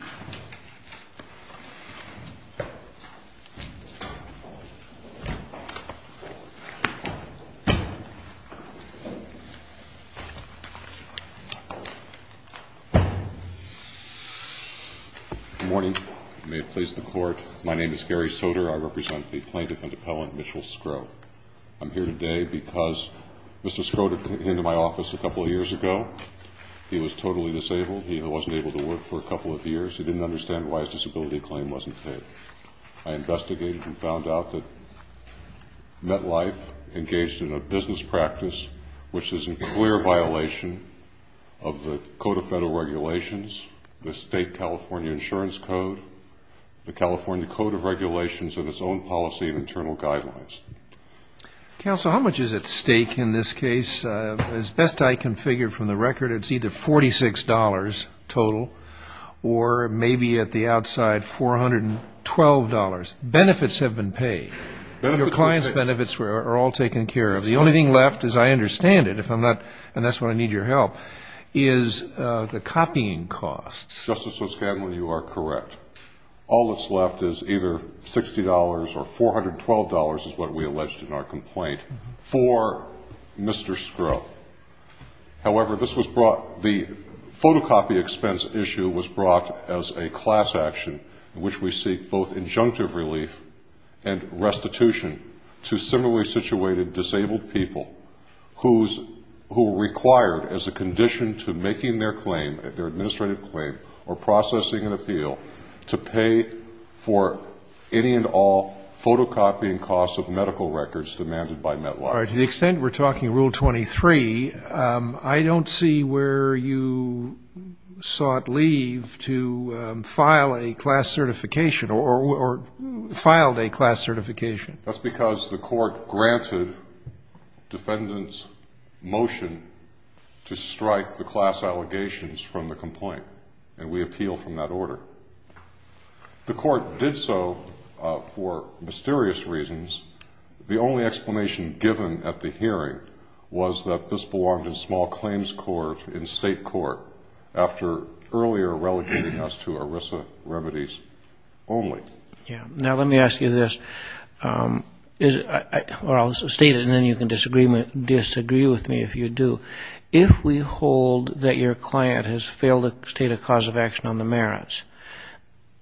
Good morning. May it please the Court, my name is Gary Soter. I represent the plaintiff and appellant Mitchell Sgro. I'm here today because Mr. Sgro came to my office a couple of years. He didn't understand why his disability claim wasn't paid. I investigated and found out that MetLife engaged in a business practice which is in clear violation of the Code of Federal Regulations, the State California Insurance Code, the California Code of Regulations and its own policy and internal guidelines. Counsel, how much is at stake in this case? As best I can figure from the record, it's either $46 total or maybe at the outside $412. Benefits have been paid. Your client's benefits are all taken care of. The only thing left, as I understand it, if I'm not, and that's when I need your help, is the copying costs. Justice O'Scanlan, you are correct. All that's left is either $60 or $412 is what we alleged in our complaint for Mr. Sgro. However, this was brought, the photocopy expense issue was brought as a class action in which we seek both injunctive relief and restitution to similarly situated disabled people who are required as a condition to making their claim, their administrative claim, or processing an appeal to pay for any and all photocopying costs of medical records demanded by Medline. All right. To the extent we're talking Rule 23, I don't see where you sought leave to file a class certification or filed a class certification. That's because the Court granted defendants' motion to strike the class allegations from the complaint, and we appeal from that order. The Court did so for mysterious reasons. The only explanation given at the hearing was that this belonged in small claims court, in state court, after earlier relegating us to ERISA remedies only. Yeah. Now, let me ask you this. I'll state it and then you can disagree with me if you do. If we hold that your client has failed to state a cause of action on the merits,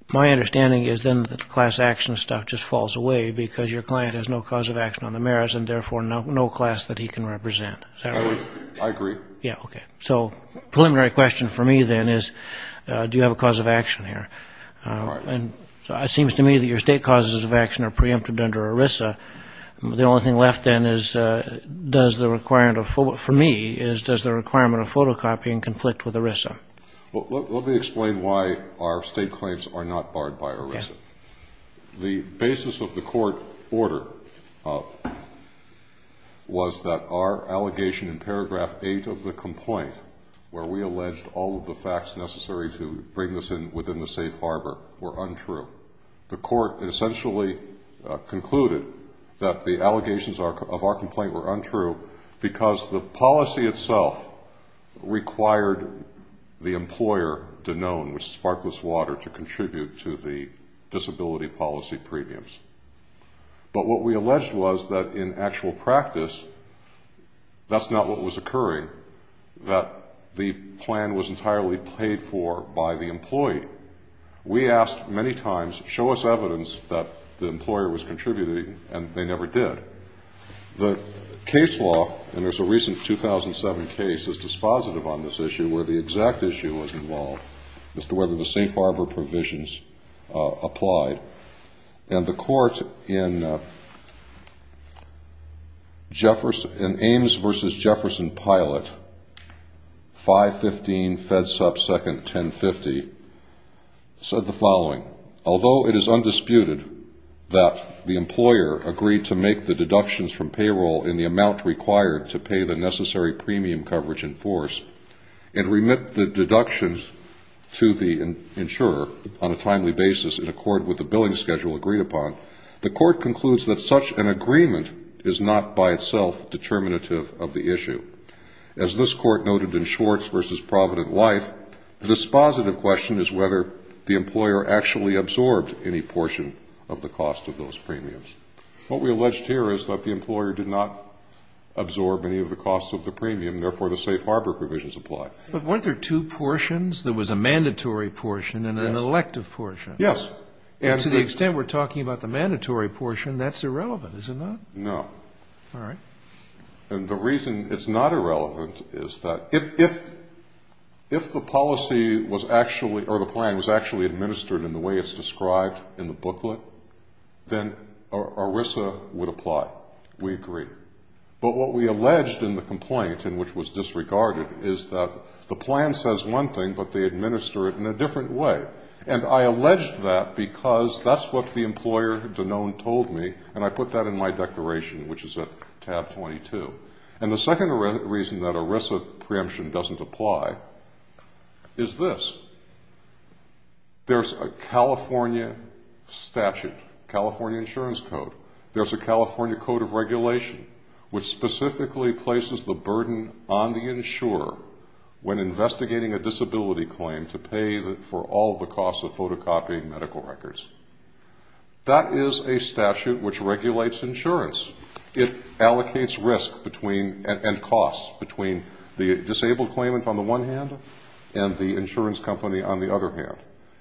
my understanding is then that the class action stuff just falls away because your client has no cause of action on the merits and therefore no class that he can represent. Is that right? I agree. Yeah. Okay. So preliminary question for me then is, do you have a cause of action here? All right. It seems to me that your state causes of action are preempted under ERISA. The only thing left then is, does the requirement of, for me, is does the requirement of photocopying conflict with ERISA? Well, let me explain why our state claims are not barred by ERISA. Okay. The basis of the Court order was that our allegation in paragraph 8 of the complaint, where we alleged all of the facts necessary to bring this in within the safe harbor, were untrue. The Court essentially concluded that the allegations of our complaint were untrue because the policy itself required the employer, Danone, which is Sparkless Water, to contribute to the disability policy premiums. But what we alleged was that in actual practice, that's not what was occurring, that the plan was entirely paid for by the employee. We asked many times, show us evidence that the employer was contributing, and they never did. The case law, and there's a recent 2007 case that's dispositive on this issue where the exact issue was involved as to whether the safe harbor provisions applied. And the Court in Ames v. Jefferson Pilot, 515 FedSup 2nd, 1050, said the following. Although it is undisputed that the employer agreed to make the deductions from payroll in the amount required to pay the necessary premium coverage in force, and remit the deductions to the insurer on a timely basis in accord with the billing schedule agreed upon, the Court concludes that such an agreement is not by itself determinative of the issue. As this Court noted in Schwartz v. Provident Life, the dispositive question is whether the employer actually absorbed any portion of the cost of those premiums. What we alleged here is that the employer did not absorb any of the costs of the premium, and therefore the safe harbor provisions apply. But weren't there two portions? There was a mandatory portion and an elective portion. Yes. And to the extent we're talking about the mandatory portion, that's irrelevant, is it not? No. All right. And the reason it's not irrelevant is that if the policy was actually or the plan was actually administered in the way it's described in the booklet, then ERISA would apply. We agree. But what we alleged in the complaint, in which was disregarded, is that the plan says one thing, but they administer it in a different way. And I alleged that because that's what the employer, Dunone, told me, and I put that in my declaration, which is at tab 22. And the second reason that ERISA preemption doesn't apply is this. There's a California statute, California insurance code. There's a California code of regulation, which specifically places the burden on the insurer when investigating a disability claim to pay for all the costs of photocopying medical records. That is a statute which regulates insurance. It allocates risk and costs between the disabled claimant on the one hand and the insurance company on the other hand.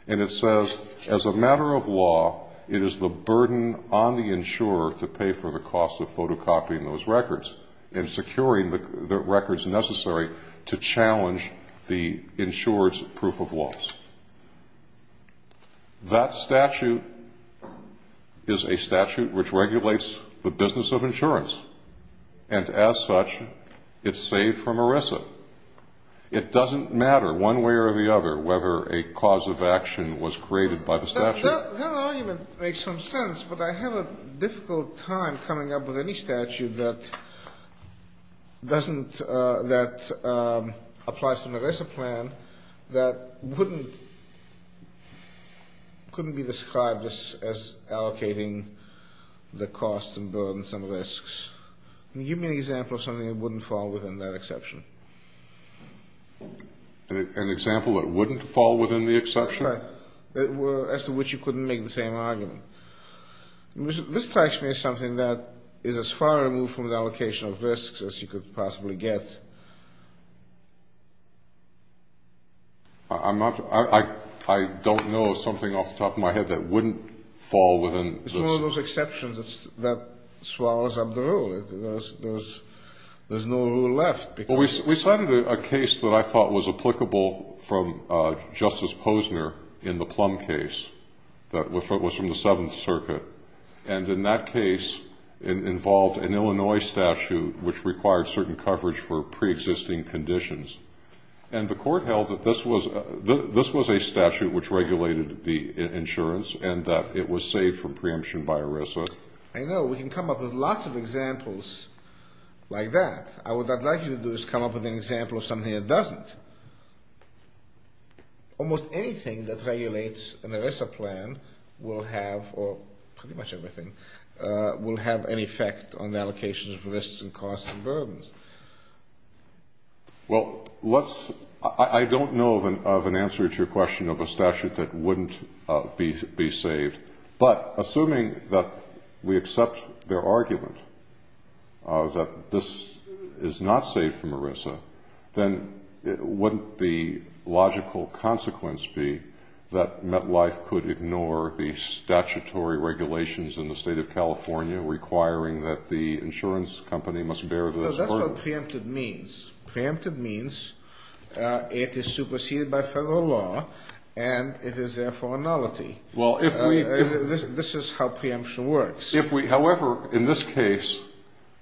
And it says, as a matter of law, it is the burden on the insurer to pay for the cost of photocopying those records and securing the records necessary to challenge the insurer's proof of loss. That statute is a statute which regulates the business of insurance. And as such, it's saved from ERISA. It doesn't matter one way or the other whether a cause of action was created by the statute. That argument makes some sense, but I have a difficult time coming up with any statute that doesn't that applies to an ERISA plan that wouldn't couldn't be described as allocating the costs and burdens and risks. Give me an example of something that wouldn't fall within that exception. That's right. As to which you couldn't make the same argument. This strikes me as something that is as far removed from the allocation of risks as you could possibly get. I don't know of something off the top of my head that wouldn't fall within this. It's one of those exceptions that swallows up the rule. There's no rule left. We cited a case that I thought was applicable from Justice Posner in the Plum case that was from the Seventh Circuit. And in that case, it involved an Illinois statute which required certain coverage for preexisting conditions. And the court held that this was a statute which regulated the insurance and that it was saved from preemption by ERISA. I know. We can come up with lots of examples like that. What I'd like you to do is come up with an example of something that doesn't. Almost anything that regulates an ERISA plan will have, or pretty much everything, will have an effect on the allocation of risks and costs and burdens. Well, I don't know of an answer to your question of a statute that wouldn't be saved. But assuming that we accept their argument that this is not saved from ERISA, then wouldn't the logical consequence be that MetLife could ignore the statutory regulations in the State of California requiring that the insurance company must bear those burdens? No, that's what preemptive means. Preemptive means it is superseded by federal law, and it is therefore a nullity. Well, if we... This is how preemption works. However, in this case,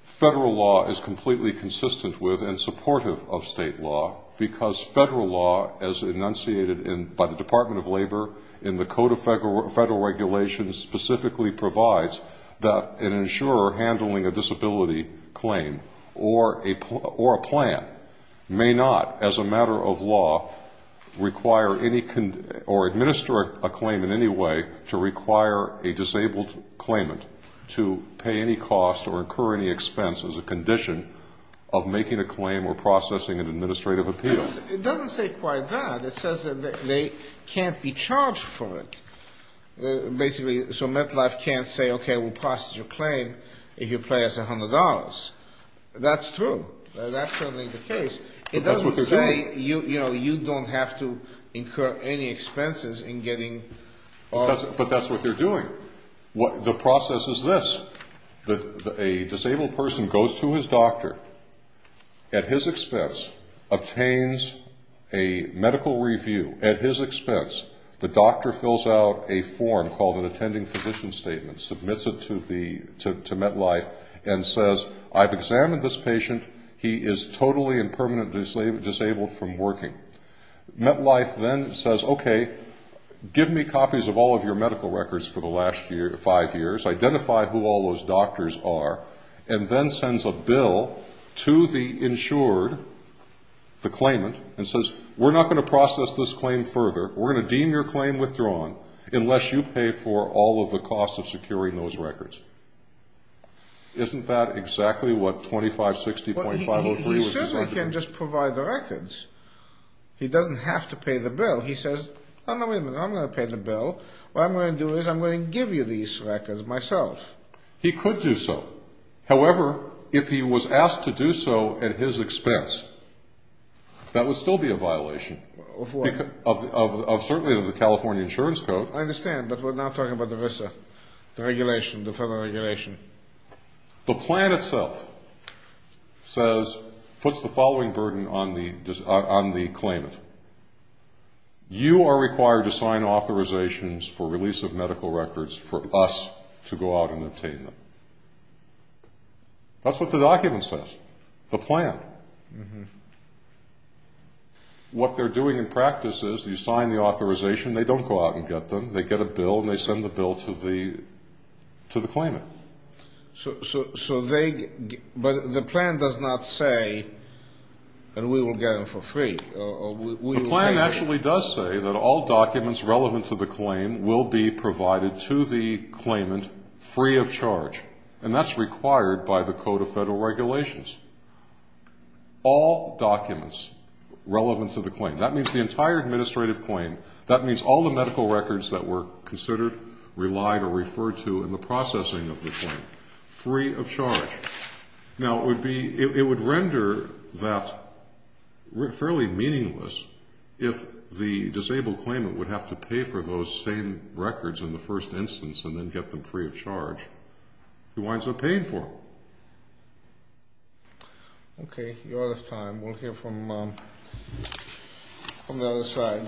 federal law is completely consistent with and supportive of State law because federal law, as enunciated by the Department of Labor in the Code of Federal Regulations, specifically provides that an insurer handling a disability claim or a plan may not, as a matter of law, require any or administer a claim in any way to require a disabled claimant to pay any cost or incur any expense as a condition of making a claim or processing an administrative appeal. It doesn't say quite that. It says that they can't be charged for it, basically. So MetLife can't say, okay, we'll process your claim if you pay us $100. That's true. That's certainly the case. It doesn't say, you know, you don't have to incur any expenses in getting... But that's what they're doing. The process is this. A disabled person goes to his doctor, at his expense, obtains a medical review. At his expense, the doctor fills out a form called an attending physician statement, submits it to MetLife, and says, I've examined this patient. He is totally and permanently disabled from working. MetLife then says, okay, give me copies of all of your medical records for the last five years. Identify who all those doctors are. And then sends a bill to the insured, the claimant, and says, we're not going to process this claim further. We're going to deem your claim withdrawn unless you pay for all of the costs of securing those records. Isn't that exactly what 2560.503 was designed to do? He certainly can just provide the records. He doesn't have to pay the bill. He says, I'm going to pay the bill. What I'm going to do is I'm going to give you these records myself. He could do so. However, if he was asked to do so at his expense, that would still be a violation. Of what? Certainly of the California Insurance Code. I understand, but we're not talking about the VISA, the regulation, the federal regulation. The plan itself says, puts the following burden on the claimant. You are required to sign authorizations for release of medical records for us to go out and obtain them. That's what the document says. The plan. What they're doing in practice is you sign the authorization. They don't go out and get them. They get a bill, and they send the bill to the claimant. But the plan does not say that we will get them for free. The plan actually does say that all documents relevant to the claim will be provided to the claimant free of charge, and that's required by the Code of Federal Regulations. All documents relevant to the claim. That means the entire administrative claim. That means all the medical records that were considered, relied or referred to in the processing of the claim. Free of charge. Now, it would render that fairly meaningless if the disabled claimant would have to pay for those same records in the first instance and then get them free of charge. He winds up paying for them. Okay. Your time. We'll hear from the other side.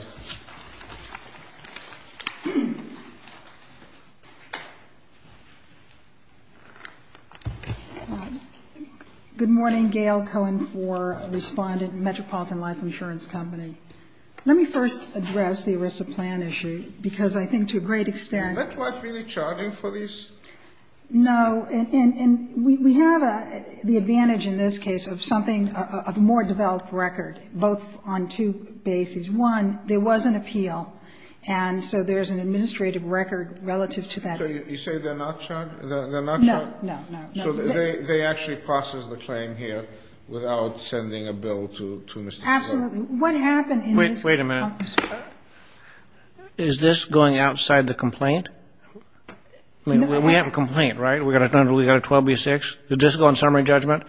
Good morning. Gail Cohen IV, Respondent, Metropolitan Life Insurance Company. Let me first address the ERISA plan issue, because I think to a great extent. Is MetLife really charging for these? No. And we have the advantage in this case of something, a more developed record, both on two bases. One, there was an appeal, and so there's an administrative record relative to that. So you say they're not charged? They're not charged? No, no, no. So they actually process the claim here without sending a bill to Mr. Cohen? Absolutely. What happened in this case? Wait a minute. Is this going outside the complaint? I mean, we have a complaint, right? We've got a 12B6. Did this go in summary judgment?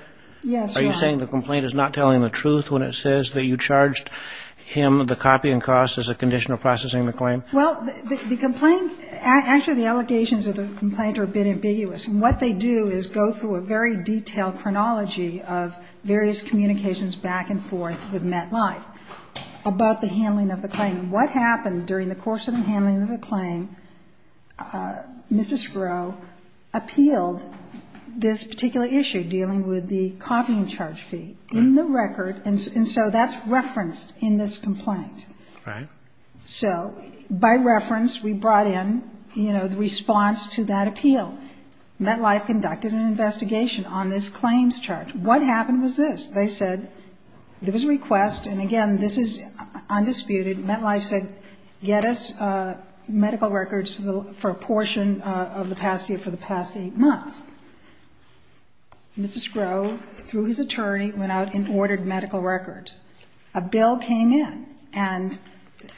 Yes, Your Honor. Are you saying the complaint is not telling the truth when it says that you charged him the copy and cost as a condition of processing the claim? Well, the complaint, actually the allegations of the complaint are a bit ambiguous. And what they do is go through a very detailed chronology of various communications back and forth with MetLife about the handling of the claim and what happened during the course of the handling of the claim. Mrs. Rowe appealed this particular issue dealing with the copy and charge fee in the record, and so that's referenced in this complaint. Right. So by reference we brought in, you know, the response to that appeal. MetLife conducted an investigation on this claims charge. What happened was this. They said there was a request, and again, this is undisputed. MetLife said, get us medical records for a portion of the past year for the past eight months. Mr. Scrowe, through his attorney, went out and ordered medical records. A bill came in. And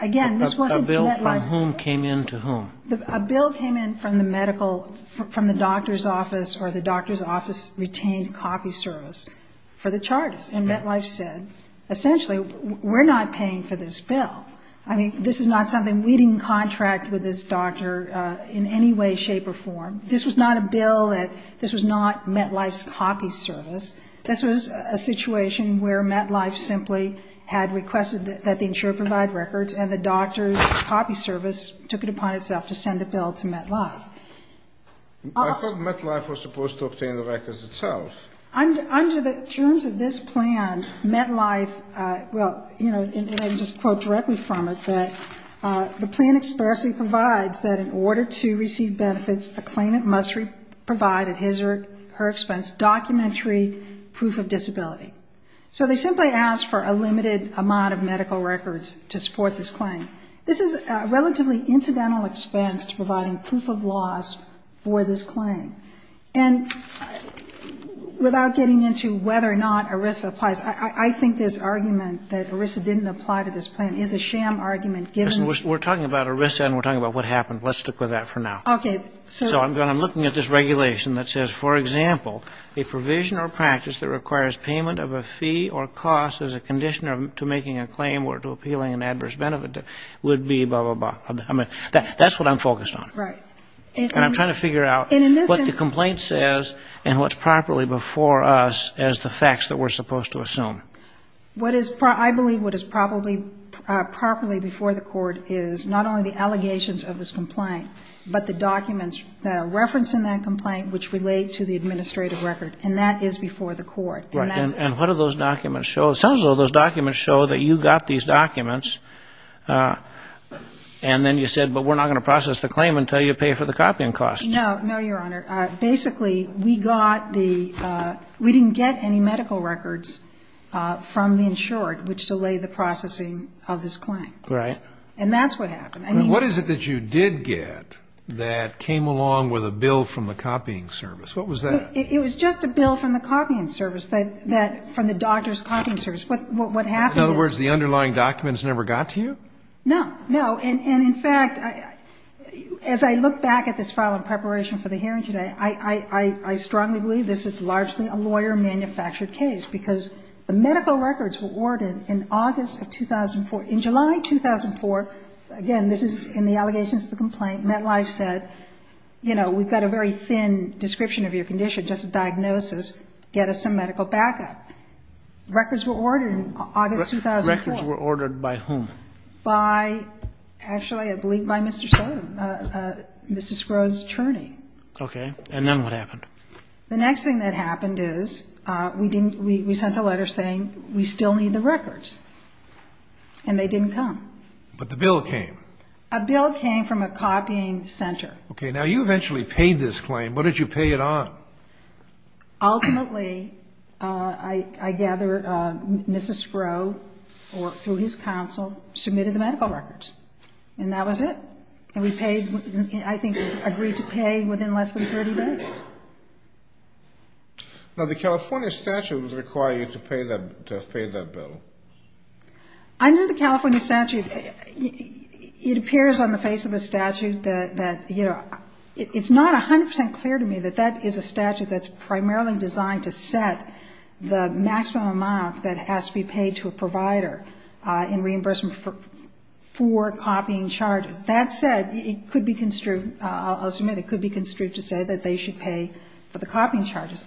again, this wasn't MetLife's bill. A bill from whom came in to whom? A bill came in from the medical, from the doctor's office or the doctor's office retained copy service for the charges. And MetLife said, essentially, we're not paying for this bill. I mean, this is not something we didn't contract with this doctor in any way, shape or form. This was not a bill that this was not MetLife's copy service. This was a situation where MetLife simply had requested that the insurer provide medical records, and the doctor's copy service took it upon itself to send a bill to MetLife. I thought MetLife was supposed to obtain the records itself. Under the terms of this plan, MetLife, well, you know, and I can just quote directly from it, that the plan expressly provides that in order to receive benefits, a claimant must provide at his or her expense documentary proof of disability. So they simply asked for a limited amount of medical records to support this claim. This is a relatively incidental expense to providing proof of loss for this claim. And without getting into whether or not ERISA applies, I think this argument that ERISA didn't apply to this plan is a sham argument given the ---- We're talking about ERISA and we're talking about what happened. Let's stick with that for now. Okay. So I'm looking at this regulation that says, for example, a provision or practice that requires payment of a fee or cost as a conditioner to making a claim or to appealing an adverse benefit would be blah, blah, blah. I mean, that's what I'm focused on. Right. And I'm trying to figure out what the complaint says and what's properly before us as the facts that we're supposed to assume. I believe what is probably properly before the court is not only the allegations of this complaint, but the documents that are referenced in that complaint which relate to the administrative record. And that is before the court. Right. And what do those documents show? Some of those documents show that you got these documents and then you said, but we're not going to process the claim until you pay for the copying costs. No. No, Your Honor. Basically, we got the ---- we didn't get any medical records from the insured which delay the processing of this claim. Right. And that's what happened. What is it that you did get that came along with a bill from the copying service? What was that? It was just a bill from the copying service that from the doctor's copying service. What happened is ---- In other words, the underlying documents never got to you? No. No. And, in fact, as I look back at this file in preparation for the hearing today, I strongly believe this is largely a lawyer-manufactured case because the medical records were ordered in August of 2004. In July 2004, again, this is in the allegations of the complaint, MetLife said, you know, we've got a very thin description of your condition, just a diagnosis, get us some medical backup. Records were ordered in August 2004. Records were ordered by whom? By, actually, I believe by Mr. Sotomayor, Mr. Sgro's attorney. Okay. And then what happened? The next thing that happened is we didn't ---- we sent a letter saying we still need the records. And they didn't come. But the bill came. A bill came from a copying center. Okay. Now, you eventually paid this claim. What did you pay it on? Ultimately, I gather Mr. Sgro, through his counsel, submitted the medical records. And that was it. And we paid ---- I think we agreed to pay within less than 30 days. Now, the California statute would require you to pay that bill. Under the California statute, it appears on the face of the statute that, you know, it's not 100% clear to me that that is a statute that's primarily designed to set the maximum amount that has to be paid to a provider in reimbursement for copying charges. That said, it could be construed ---- I'll submit it could be construed to say that they should pay for the copying charges.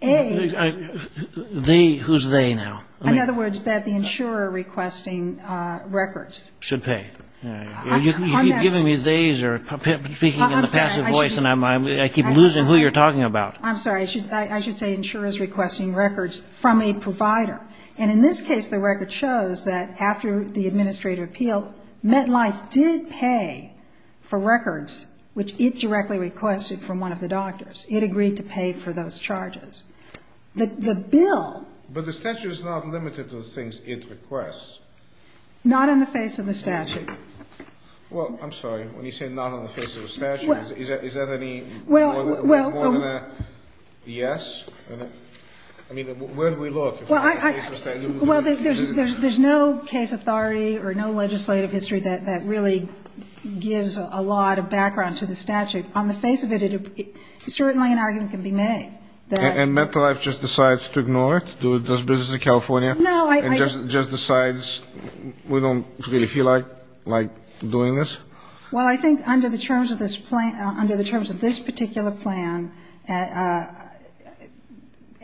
A ---- They? Who's they now? In other words, that the insurer requesting records. Should pay. You're giving me they's or speaking in a passive voice, and I keep losing who you're talking about. I'm sorry. I should say insurers requesting records from a provider. And in this case, the record shows that after the administrative appeal, MetLife did pay for records, which it directly requested from one of the doctors. It agreed to pay for those charges. The bill ---- But the statute is not limited to the things it requests. Not on the face of the statute. Well, I'm sorry. When you say not on the face of the statute, is that any more than a yes? I mean, where do we look? Well, I ---- Well, there's no case authority or no legislative history that really gives a lot of background to the statute. On the face of it, certainly an argument can be made that ---- And MetLife just decides to ignore it, does business in California? No, I ---- And just decides we don't really feel like doing this? Well, I think under the terms of this plan ---- under the terms of this particular plan,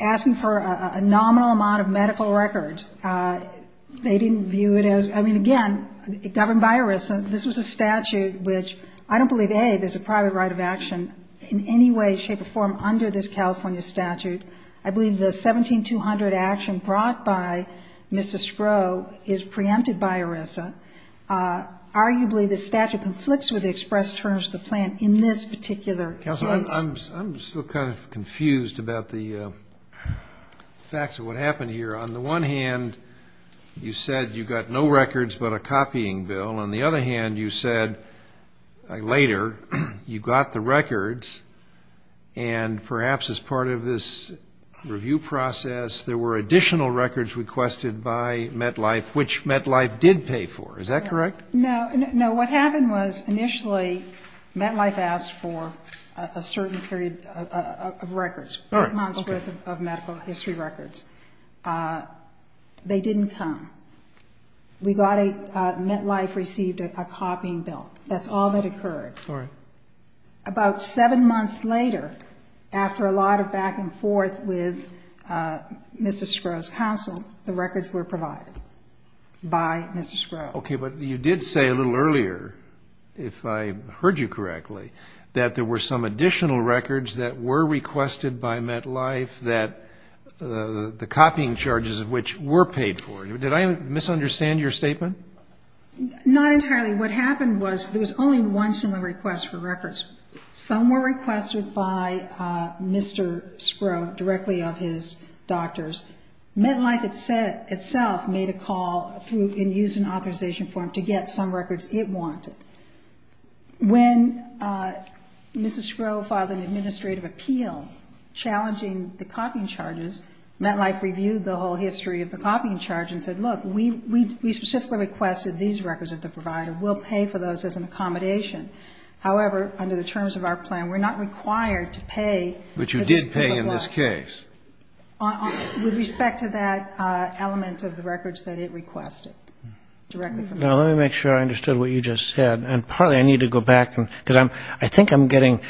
asking for a nominal amount of medical records, they didn't view it as ---- I mean, again, governed by ERISA. This was a statute which I don't believe, A, there's a private right of action in any way, shape, or form under this California statute. I believe the 17200 action brought by Mrs. Stroh is preempted by ERISA. Arguably, the statute conflicts with the express terms of the plan in this particular case. Counselor, I'm still kind of confused about the facts of what happened here. On the one hand, you said you got no records but a copying bill. On the other hand, you said later you got the records, and perhaps as part of this review process, there were additional records requested by MetLife, which MetLife did pay for. Is that correct? No. No, what happened was initially MetLife asked for a certain period of records, eight months' worth of medical history records. They didn't come. We got a ---- MetLife received a copying bill. That's all that occurred. All right. About seven months later, after a lot of back and forth with Mrs. Stroh's counsel, the records were provided by Mrs. Stroh. Okay. But you did say a little earlier, if I heard you correctly, that there were some additional records that were requested by MetLife that the copying charges of which were paid for. Did I misunderstand your statement? Not entirely. What happened was there was only one similar request for records. Some were requested by Mr. Stroh directly of his doctors. MetLife itself made a call and used an authorization form to get some records it wanted. When Mrs. Stroh filed an administrative appeal challenging the copying charges, MetLife reviewed the whole history of the copying charge and said, look, we specifically requested these records of the provider. We'll pay for those as an accommodation. However, under the terms of our plan, we're not required to pay. But you did pay in this case. With respect to that element of the records that it requested directly from MetLife. Now, let me make sure I understood what you just said. And partly I need to go back, because I think I'm getting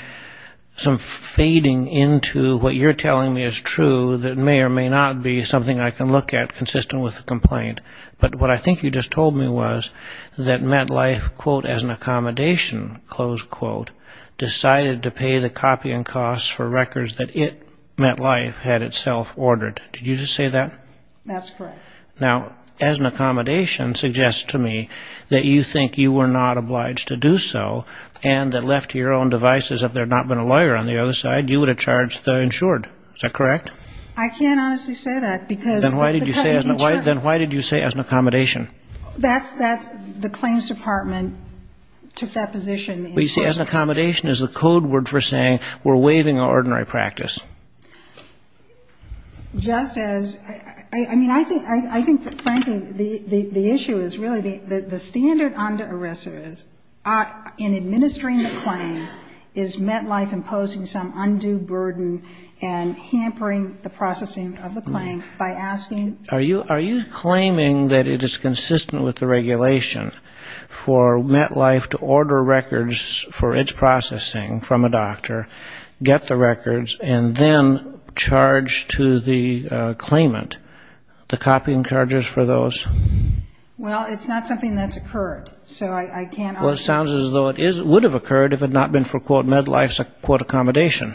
some fading into what you're telling me is true that may or may not be something I can look at consistent with the complaint. But what I think you just told me was that MetLife, quote, as an accommodation, close quote, decided to pay the copying costs for records that it, MetLife, had itself ordered. Did you just say that? That's correct. Now, as an accommodation suggests to me that you think you were not obliged to do so and that left to your own devices if there had not been a lawyer on the other side, you would have charged the insured. Is that correct? I can't honestly say that, because the company did charge me. Then why did you say as an accommodation? That's the claims department took that position. But you see, as an accommodation is the code word for saying we're waiving our ordinary practice. Just as — I mean, I think, frankly, the issue is really the standard on the arrestors in administering the claim, is MetLife imposing some undue burden and hampering the processing of the claim by asking? Are you claiming that it is consistent with the regulation for MetLife to order records for its processing from a doctor, get the records, and then charge to the claimant the copying charges for those? Well, it's not something that's occurred. So I can't honestly say. Well, it sounds as though it would have occurred if it had not been for, quote, MetLife's, quote, accommodation.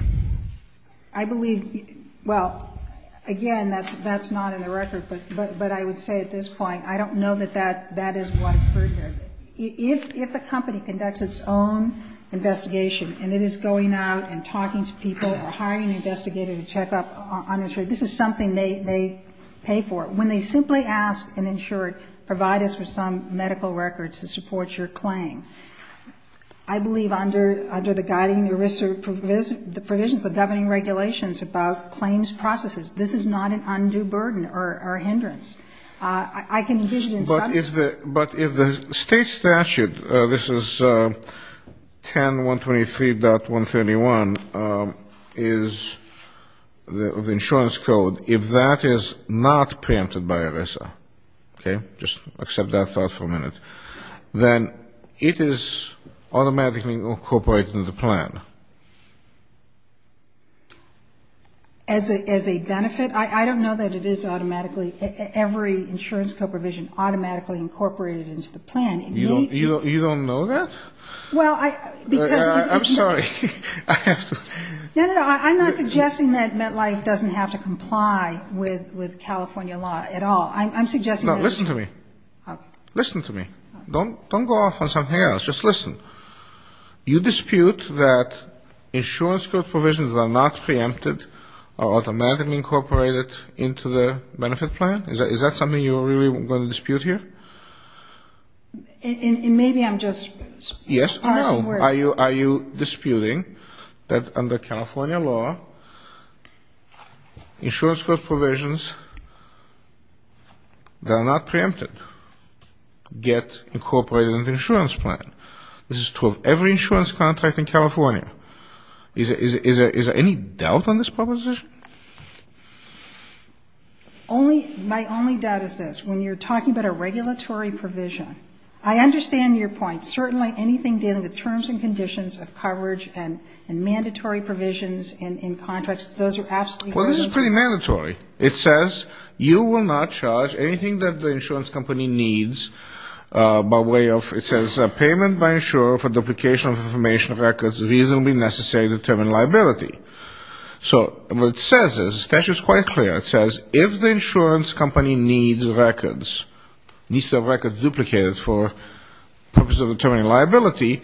I believe — well, again, that's not in the record. But I would say at this point I don't know that that is what occurred here. If a company conducts its own investigation and it is going out and talking to people or hiring an investigator to check up on an insurer, this is something they pay for. But when they simply ask an insurer, provide us with some medical records to support your claim, I believe under the guiding ERISA provisions, the governing regulations about claims processes, this is not an undue burden or hindrance. I can envision in some sense. But if the state statute, this is 10.123.131, is the insurance code, if that is not preempted by ERISA, okay, just accept that thought for a minute, then it is automatically incorporated in the plan. As a benefit? I don't know that it is automatically. Every insurance code provision automatically incorporated into the plan. It may be — You don't know that? Well, I — I'm sorry. I have to — No, no, no. I'm not suggesting that MetLife doesn't have to comply with California law at all. I'm suggesting that — No, listen to me. Listen to me. Don't go off on something else. Just listen. You dispute that insurance code provisions that are not preempted are automatically incorporated into the benefit plan? Is that something you're really going to dispute here? Maybe I'm just — Yes, I know. Are you disputing that under California law, insurance code provisions that are not preempted get incorporated into the insurance plan? This is true of every insurance contract in California. Is there any doubt on this proposition? My only doubt is this. When you're talking about a regulatory provision, I understand your point. Certainly anything dealing with terms and conditions of coverage and mandatory provisions in contracts, those are absolutely — Well, this is pretty mandatory. It says you will not charge anything that the insurance company needs by way of — it says payment by insurer for duplication of information records reasonably necessary to determine liability. So what it says is — the statute is quite clear. It says if the insurance company needs records, needs to have records duplicated for purposes of determining liability,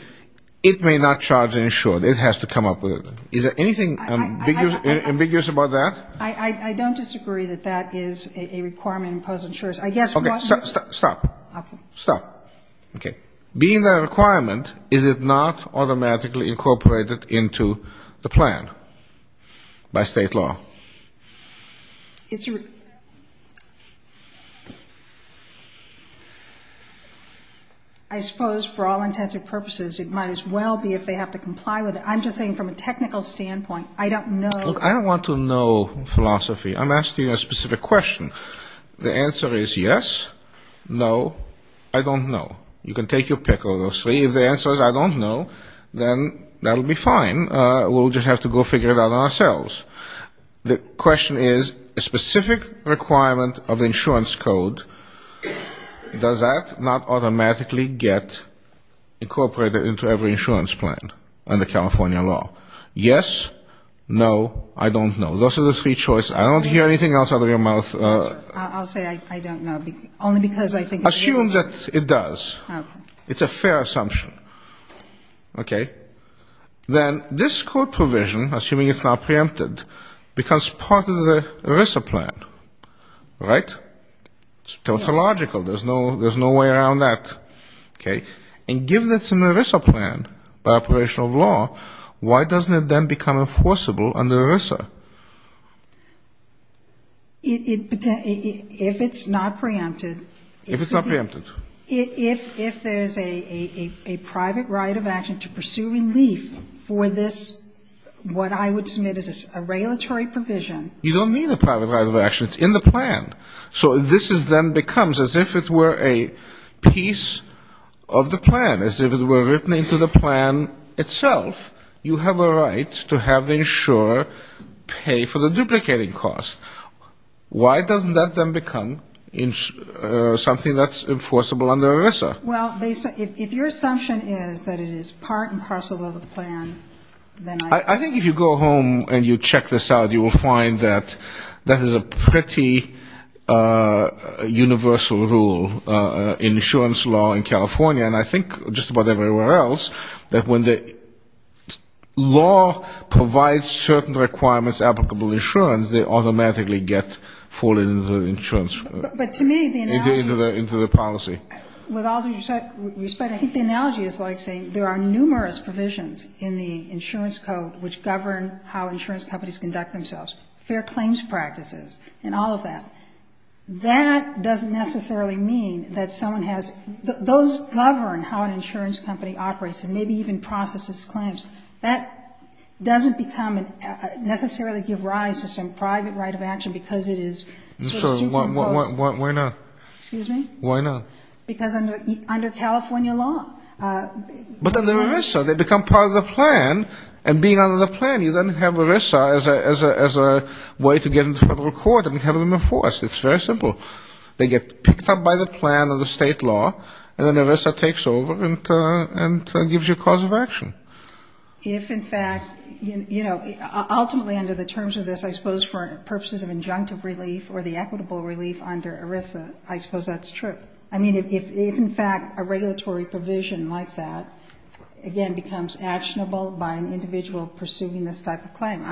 it may not charge an insurer. It has to come up with — is there anything ambiguous about that? I don't disagree that that is a requirement imposed on insurers. I guess what — Okay. Stop. Stop. Okay. Being that a requirement, is it not automatically incorporated into the plan by state law? I suppose for all intents and purposes, it might as well be if they have to comply with it. I'm just saying from a technical standpoint, I don't know — Look, I don't want to know philosophy. I'm asking a specific question. The answer is yes, no, I don't know. You can take your pick of those three. If the answer is I don't know, then that will be fine. We'll just have to go figure it out ourselves. The question is a specific requirement of the insurance code, does that not automatically get incorporated into every insurance plan under California law? Yes, no, I don't know. Those are the three choices. I don't hear anything else out of your mouth. I'll say I don't know, only because I think it's — Assume that it does. Okay. It's a fair assumption. Okay. Then this code provision, assuming it's not preempted, becomes part of the ERISA plan, right? It's tautological. There's no way around that. Okay. And given it's an ERISA plan by operation of law, why doesn't it then become enforceable under ERISA? If it's not preempted — If it's not preempted. If there's a private right of action to pursue relief for this, what I would submit is a regulatory provision. You don't need a private right of action. It's in the plan. So this then becomes, as if it were a piece of the plan, as if it were written into the plan itself, you have a right to have the insurer pay for the duplicating cost. Why doesn't that then become something that's enforceable under ERISA? Well, if your assumption is that it is part and parcel of the plan, then I — I think if you go home and you check this out, you will find that that is a pretty universal rule in insurance law in California, and I think just about everywhere else, that when the law provides certain requirements applicable to insurance, they automatically get folded into the insurance — But to me, the analogy — Into the policy. With all due respect, I think the analogy is like saying there are numerous provisions in the insurance code which govern how insurance companies conduct themselves, fair claims practices and all of that. That doesn't necessarily mean that someone has — those govern how an insurance company operates and maybe even processes claims. That doesn't become — necessarily give rise to some private right of action because it is — So why not? Excuse me? Why not? Because under California law — But under ERISA, they become part of the plan, and being under the plan, you then have ERISA as a way to get into federal court and have them enforced. It's very simple. They get picked up by the plan or the state law, and then ERISA takes over and gives you a cause of action. If, in fact, you know, ultimately under the terms of this, I suppose for purposes of injunctive relief or the equitable relief under ERISA, I suppose that's true. I mean, if, in fact, a regulatory provision like that, again, becomes actionable by an individual pursuing this type of claim,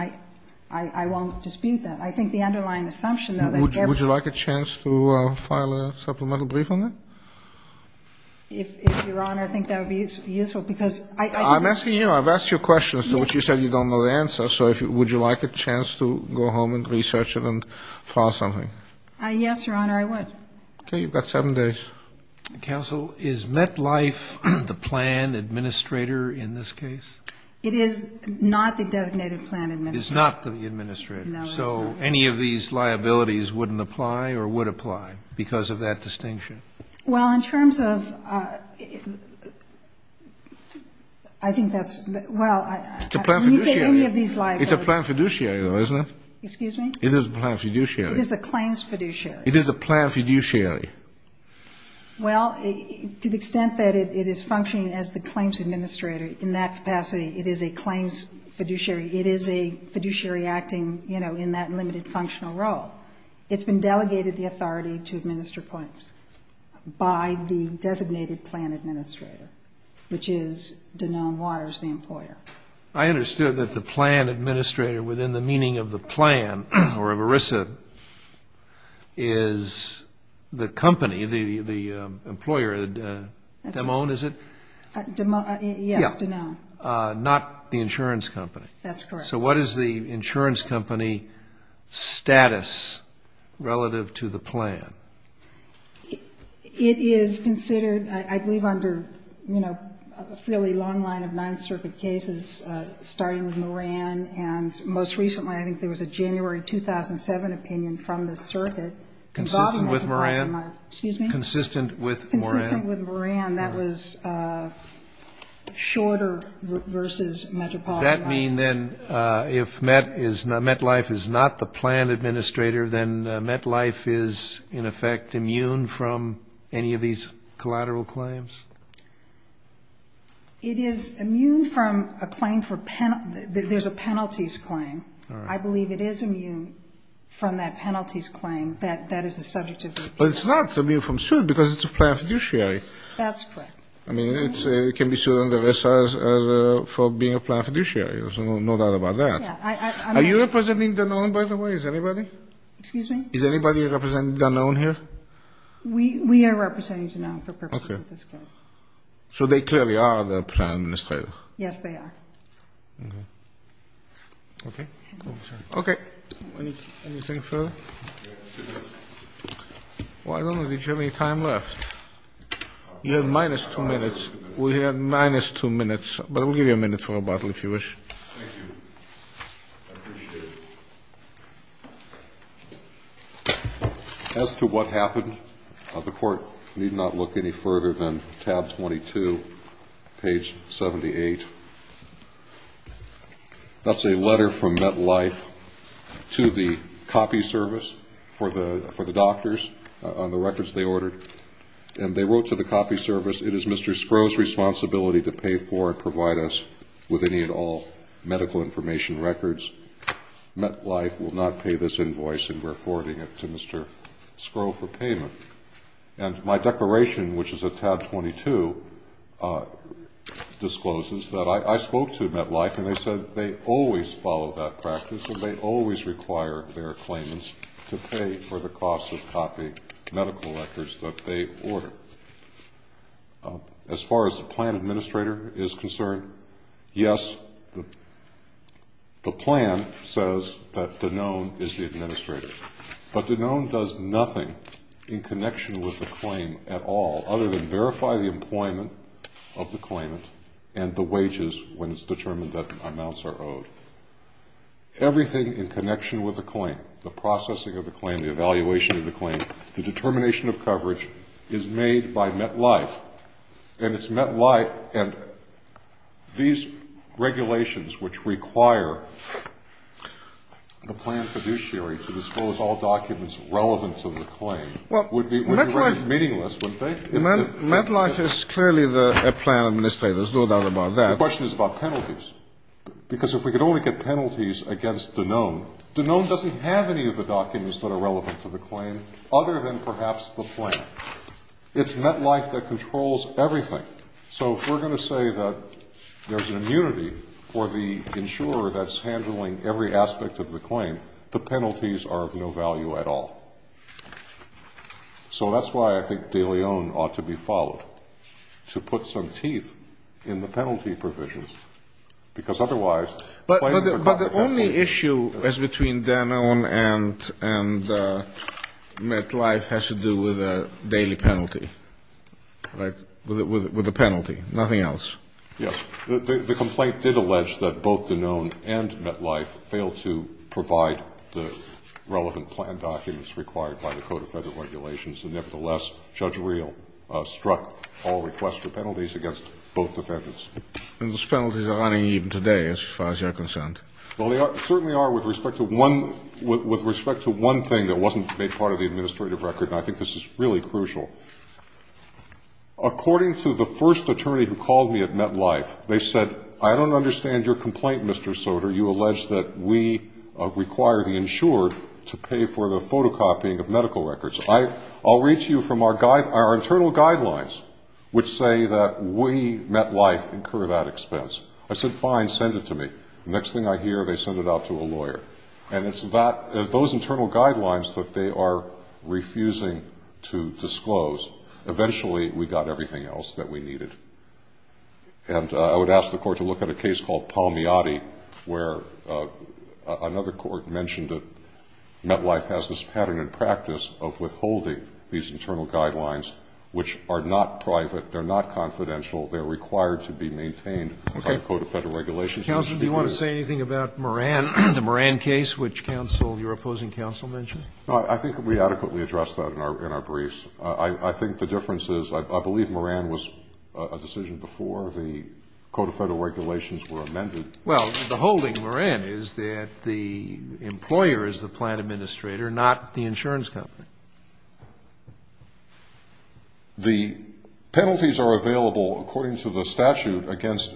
I won't dispute that. I think the underlying assumption, though — Would you like a chance to file a supplemental brief on that? If, Your Honor, I think that would be useful because — I'm asking you. I've asked you a question as to which you said you don't know the answer, so would you like a chance to go home and research it and file something? Yes, Your Honor, I would. Okay. You've got seven days. Counsel, is MetLife the plan administrator in this case? It is not the designated plan administrator. It's not the administrator. No, it's not. So any of these liabilities wouldn't apply or would apply because of that distinction? Well, in terms of — I think that's — well, I — It's a plan fiduciary. When you say any of these liabilities — It's a plan fiduciary, though, isn't it? Excuse me? It is a plan fiduciary. It is the claims fiduciary. It is a plan fiduciary. Well, to the extent that it is functioning as the claims administrator in that capacity, it is a claims fiduciary. It is a fiduciary acting, you know, in that limited functional role. It's been delegated the authority to administer claims by the designated plan administrator, which is Danone Waters, the employer. I understood that the plan administrator within the meaning of the plan or of ERISA is the company, the employer, Danone, is it? Yes, Danone. Not the insurance company. That's correct. So what is the insurance company status relative to the plan? It is considered, I believe, under, you know, a fairly long line of Ninth Circuit cases, starting with Moran. And most recently, I think there was a January 2007 opinion from the circuit involving Metropolitan Life. Consistent with Moran? Excuse me? Consistent with Moran. Consistent with Moran. That was shorter versus Metropolitan Life. Does that mean, then, if MetLife is not the plan administrator, then MetLife is, in effect, immune from any of these collateral claims? It is immune from a claim for penalties. There's a penalties claim. I believe it is immune from that penalties claim. That is the subject of the opinion. But it's not immune from suit because it's a plan fiduciary. That's correct. I mean, it can be sued under ESSA for being a plan fiduciary. There's no doubt about that. Yeah. Are you representing Danone, by the way? Is anybody? Excuse me? Is anybody representing Danone here? We are representing Danone for purposes of this case. Okay. So they clearly are the plan administrator. Yes, they are. Okay. Okay. Anything further? Well, I don't know. Did you have any time left? You have minus two minutes. We have minus two minutes. But we'll give you a minute for a bottle, if you wish. Thank you. I appreciate it. As to what happened, the Court need not look any further than tab 22, page 78. That's a letter from MetLife to the copy service for the doctors on the records they ordered. And they wrote to the copy service, it is Mr. Skrow's responsibility to pay for and provide us with any and all medical information records. MetLife will not pay this invoice, and we're forwarding it to Mr. Skrow for payment. And my declaration, which is at tab 22, discloses that I spoke to MetLife, and they said they always follow that practice, and they always require their claimants to pay for the cost of copy medical records that they order. As far as the plan administrator is concerned, yes, the plan says that Danone is the administrator. But Danone does nothing in connection with the claim at all other than verify the employment of the claimant and the wages when it's determined that amounts are owed. Everything in connection with the claim, the processing of the claim, the evaluation of the claim, the determination of coverage is made by MetLife. And it's MetLife. And these regulations which require the plan fiduciary to disclose all documents relevant to the claim would be meaningless, wouldn't they? MetLife is clearly the plan administrator. There's no doubt about that. The question is about penalties. Because if we could only get penalties against Danone, Danone doesn't have any of the documents that are relevant to the claim other than perhaps the plan. It's MetLife that controls everything. So if we're going to say that there's an immunity for the insurer that's handling every aspect of the claim, the penalties are of no value at all. So that's why I think Danone ought to be followed, to put some teeth in the penalty provisions. Because otherwise, claims are cut. But the only issue as between Danone and MetLife has to do with a daily penalty, right? With a penalty. Nothing else. Yes. The complaint did allege that both Danone and MetLife failed to provide the relevant plan documents required by the Code of Federal Regulations. And nevertheless, Judge Reel struck all requests for penalties against both defendants. And those penalties are running even today, as far as you're concerned. Well, they certainly are with respect to one thing that wasn't made part of the administrative record, and I think this is really crucial. According to the first attorney who called me at MetLife, they said, I don't understand your complaint, Mr. Soter. You allege that we require the insurer to pay for the photocopying of medical records. I'll read to you from our internal guidelines, which say that we, MetLife, incur that expense. I said, fine, send it to me. The next thing I hear, they send it out to a lawyer. And it's those internal guidelines that they are refusing to disclose. Eventually, we got everything else that we needed. And I would ask the Court to look at a case called Palmiati, where another court mentioned that MetLife has this pattern in practice of withholding these internal guidelines, which are not private, they're not confidential, they're required to be maintained by the Code of Federal Regulations. Counsel, do you want to say anything about Moran, the Moran case, which counsel or your opposing counsel mentioned? I think we adequately addressed that in our briefs. I think the difference is I believe Moran was a decision before the Code of Federal Regulations were amended. Well, the holding, Moran, is that the employer is the plant administrator, not the insurance company. The penalties are available, according to the statute, against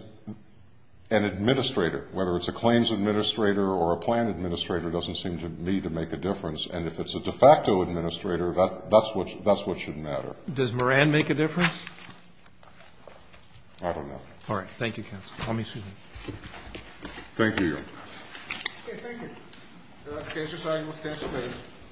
an administrator. Whether it's a claims administrator or a plant administrator doesn't seem to me to make a difference. And if it's a de facto administrator, that's what should matter. Does Moran make a difference? I don't know. All right. Thank you, counsel. Thank you. Thank you.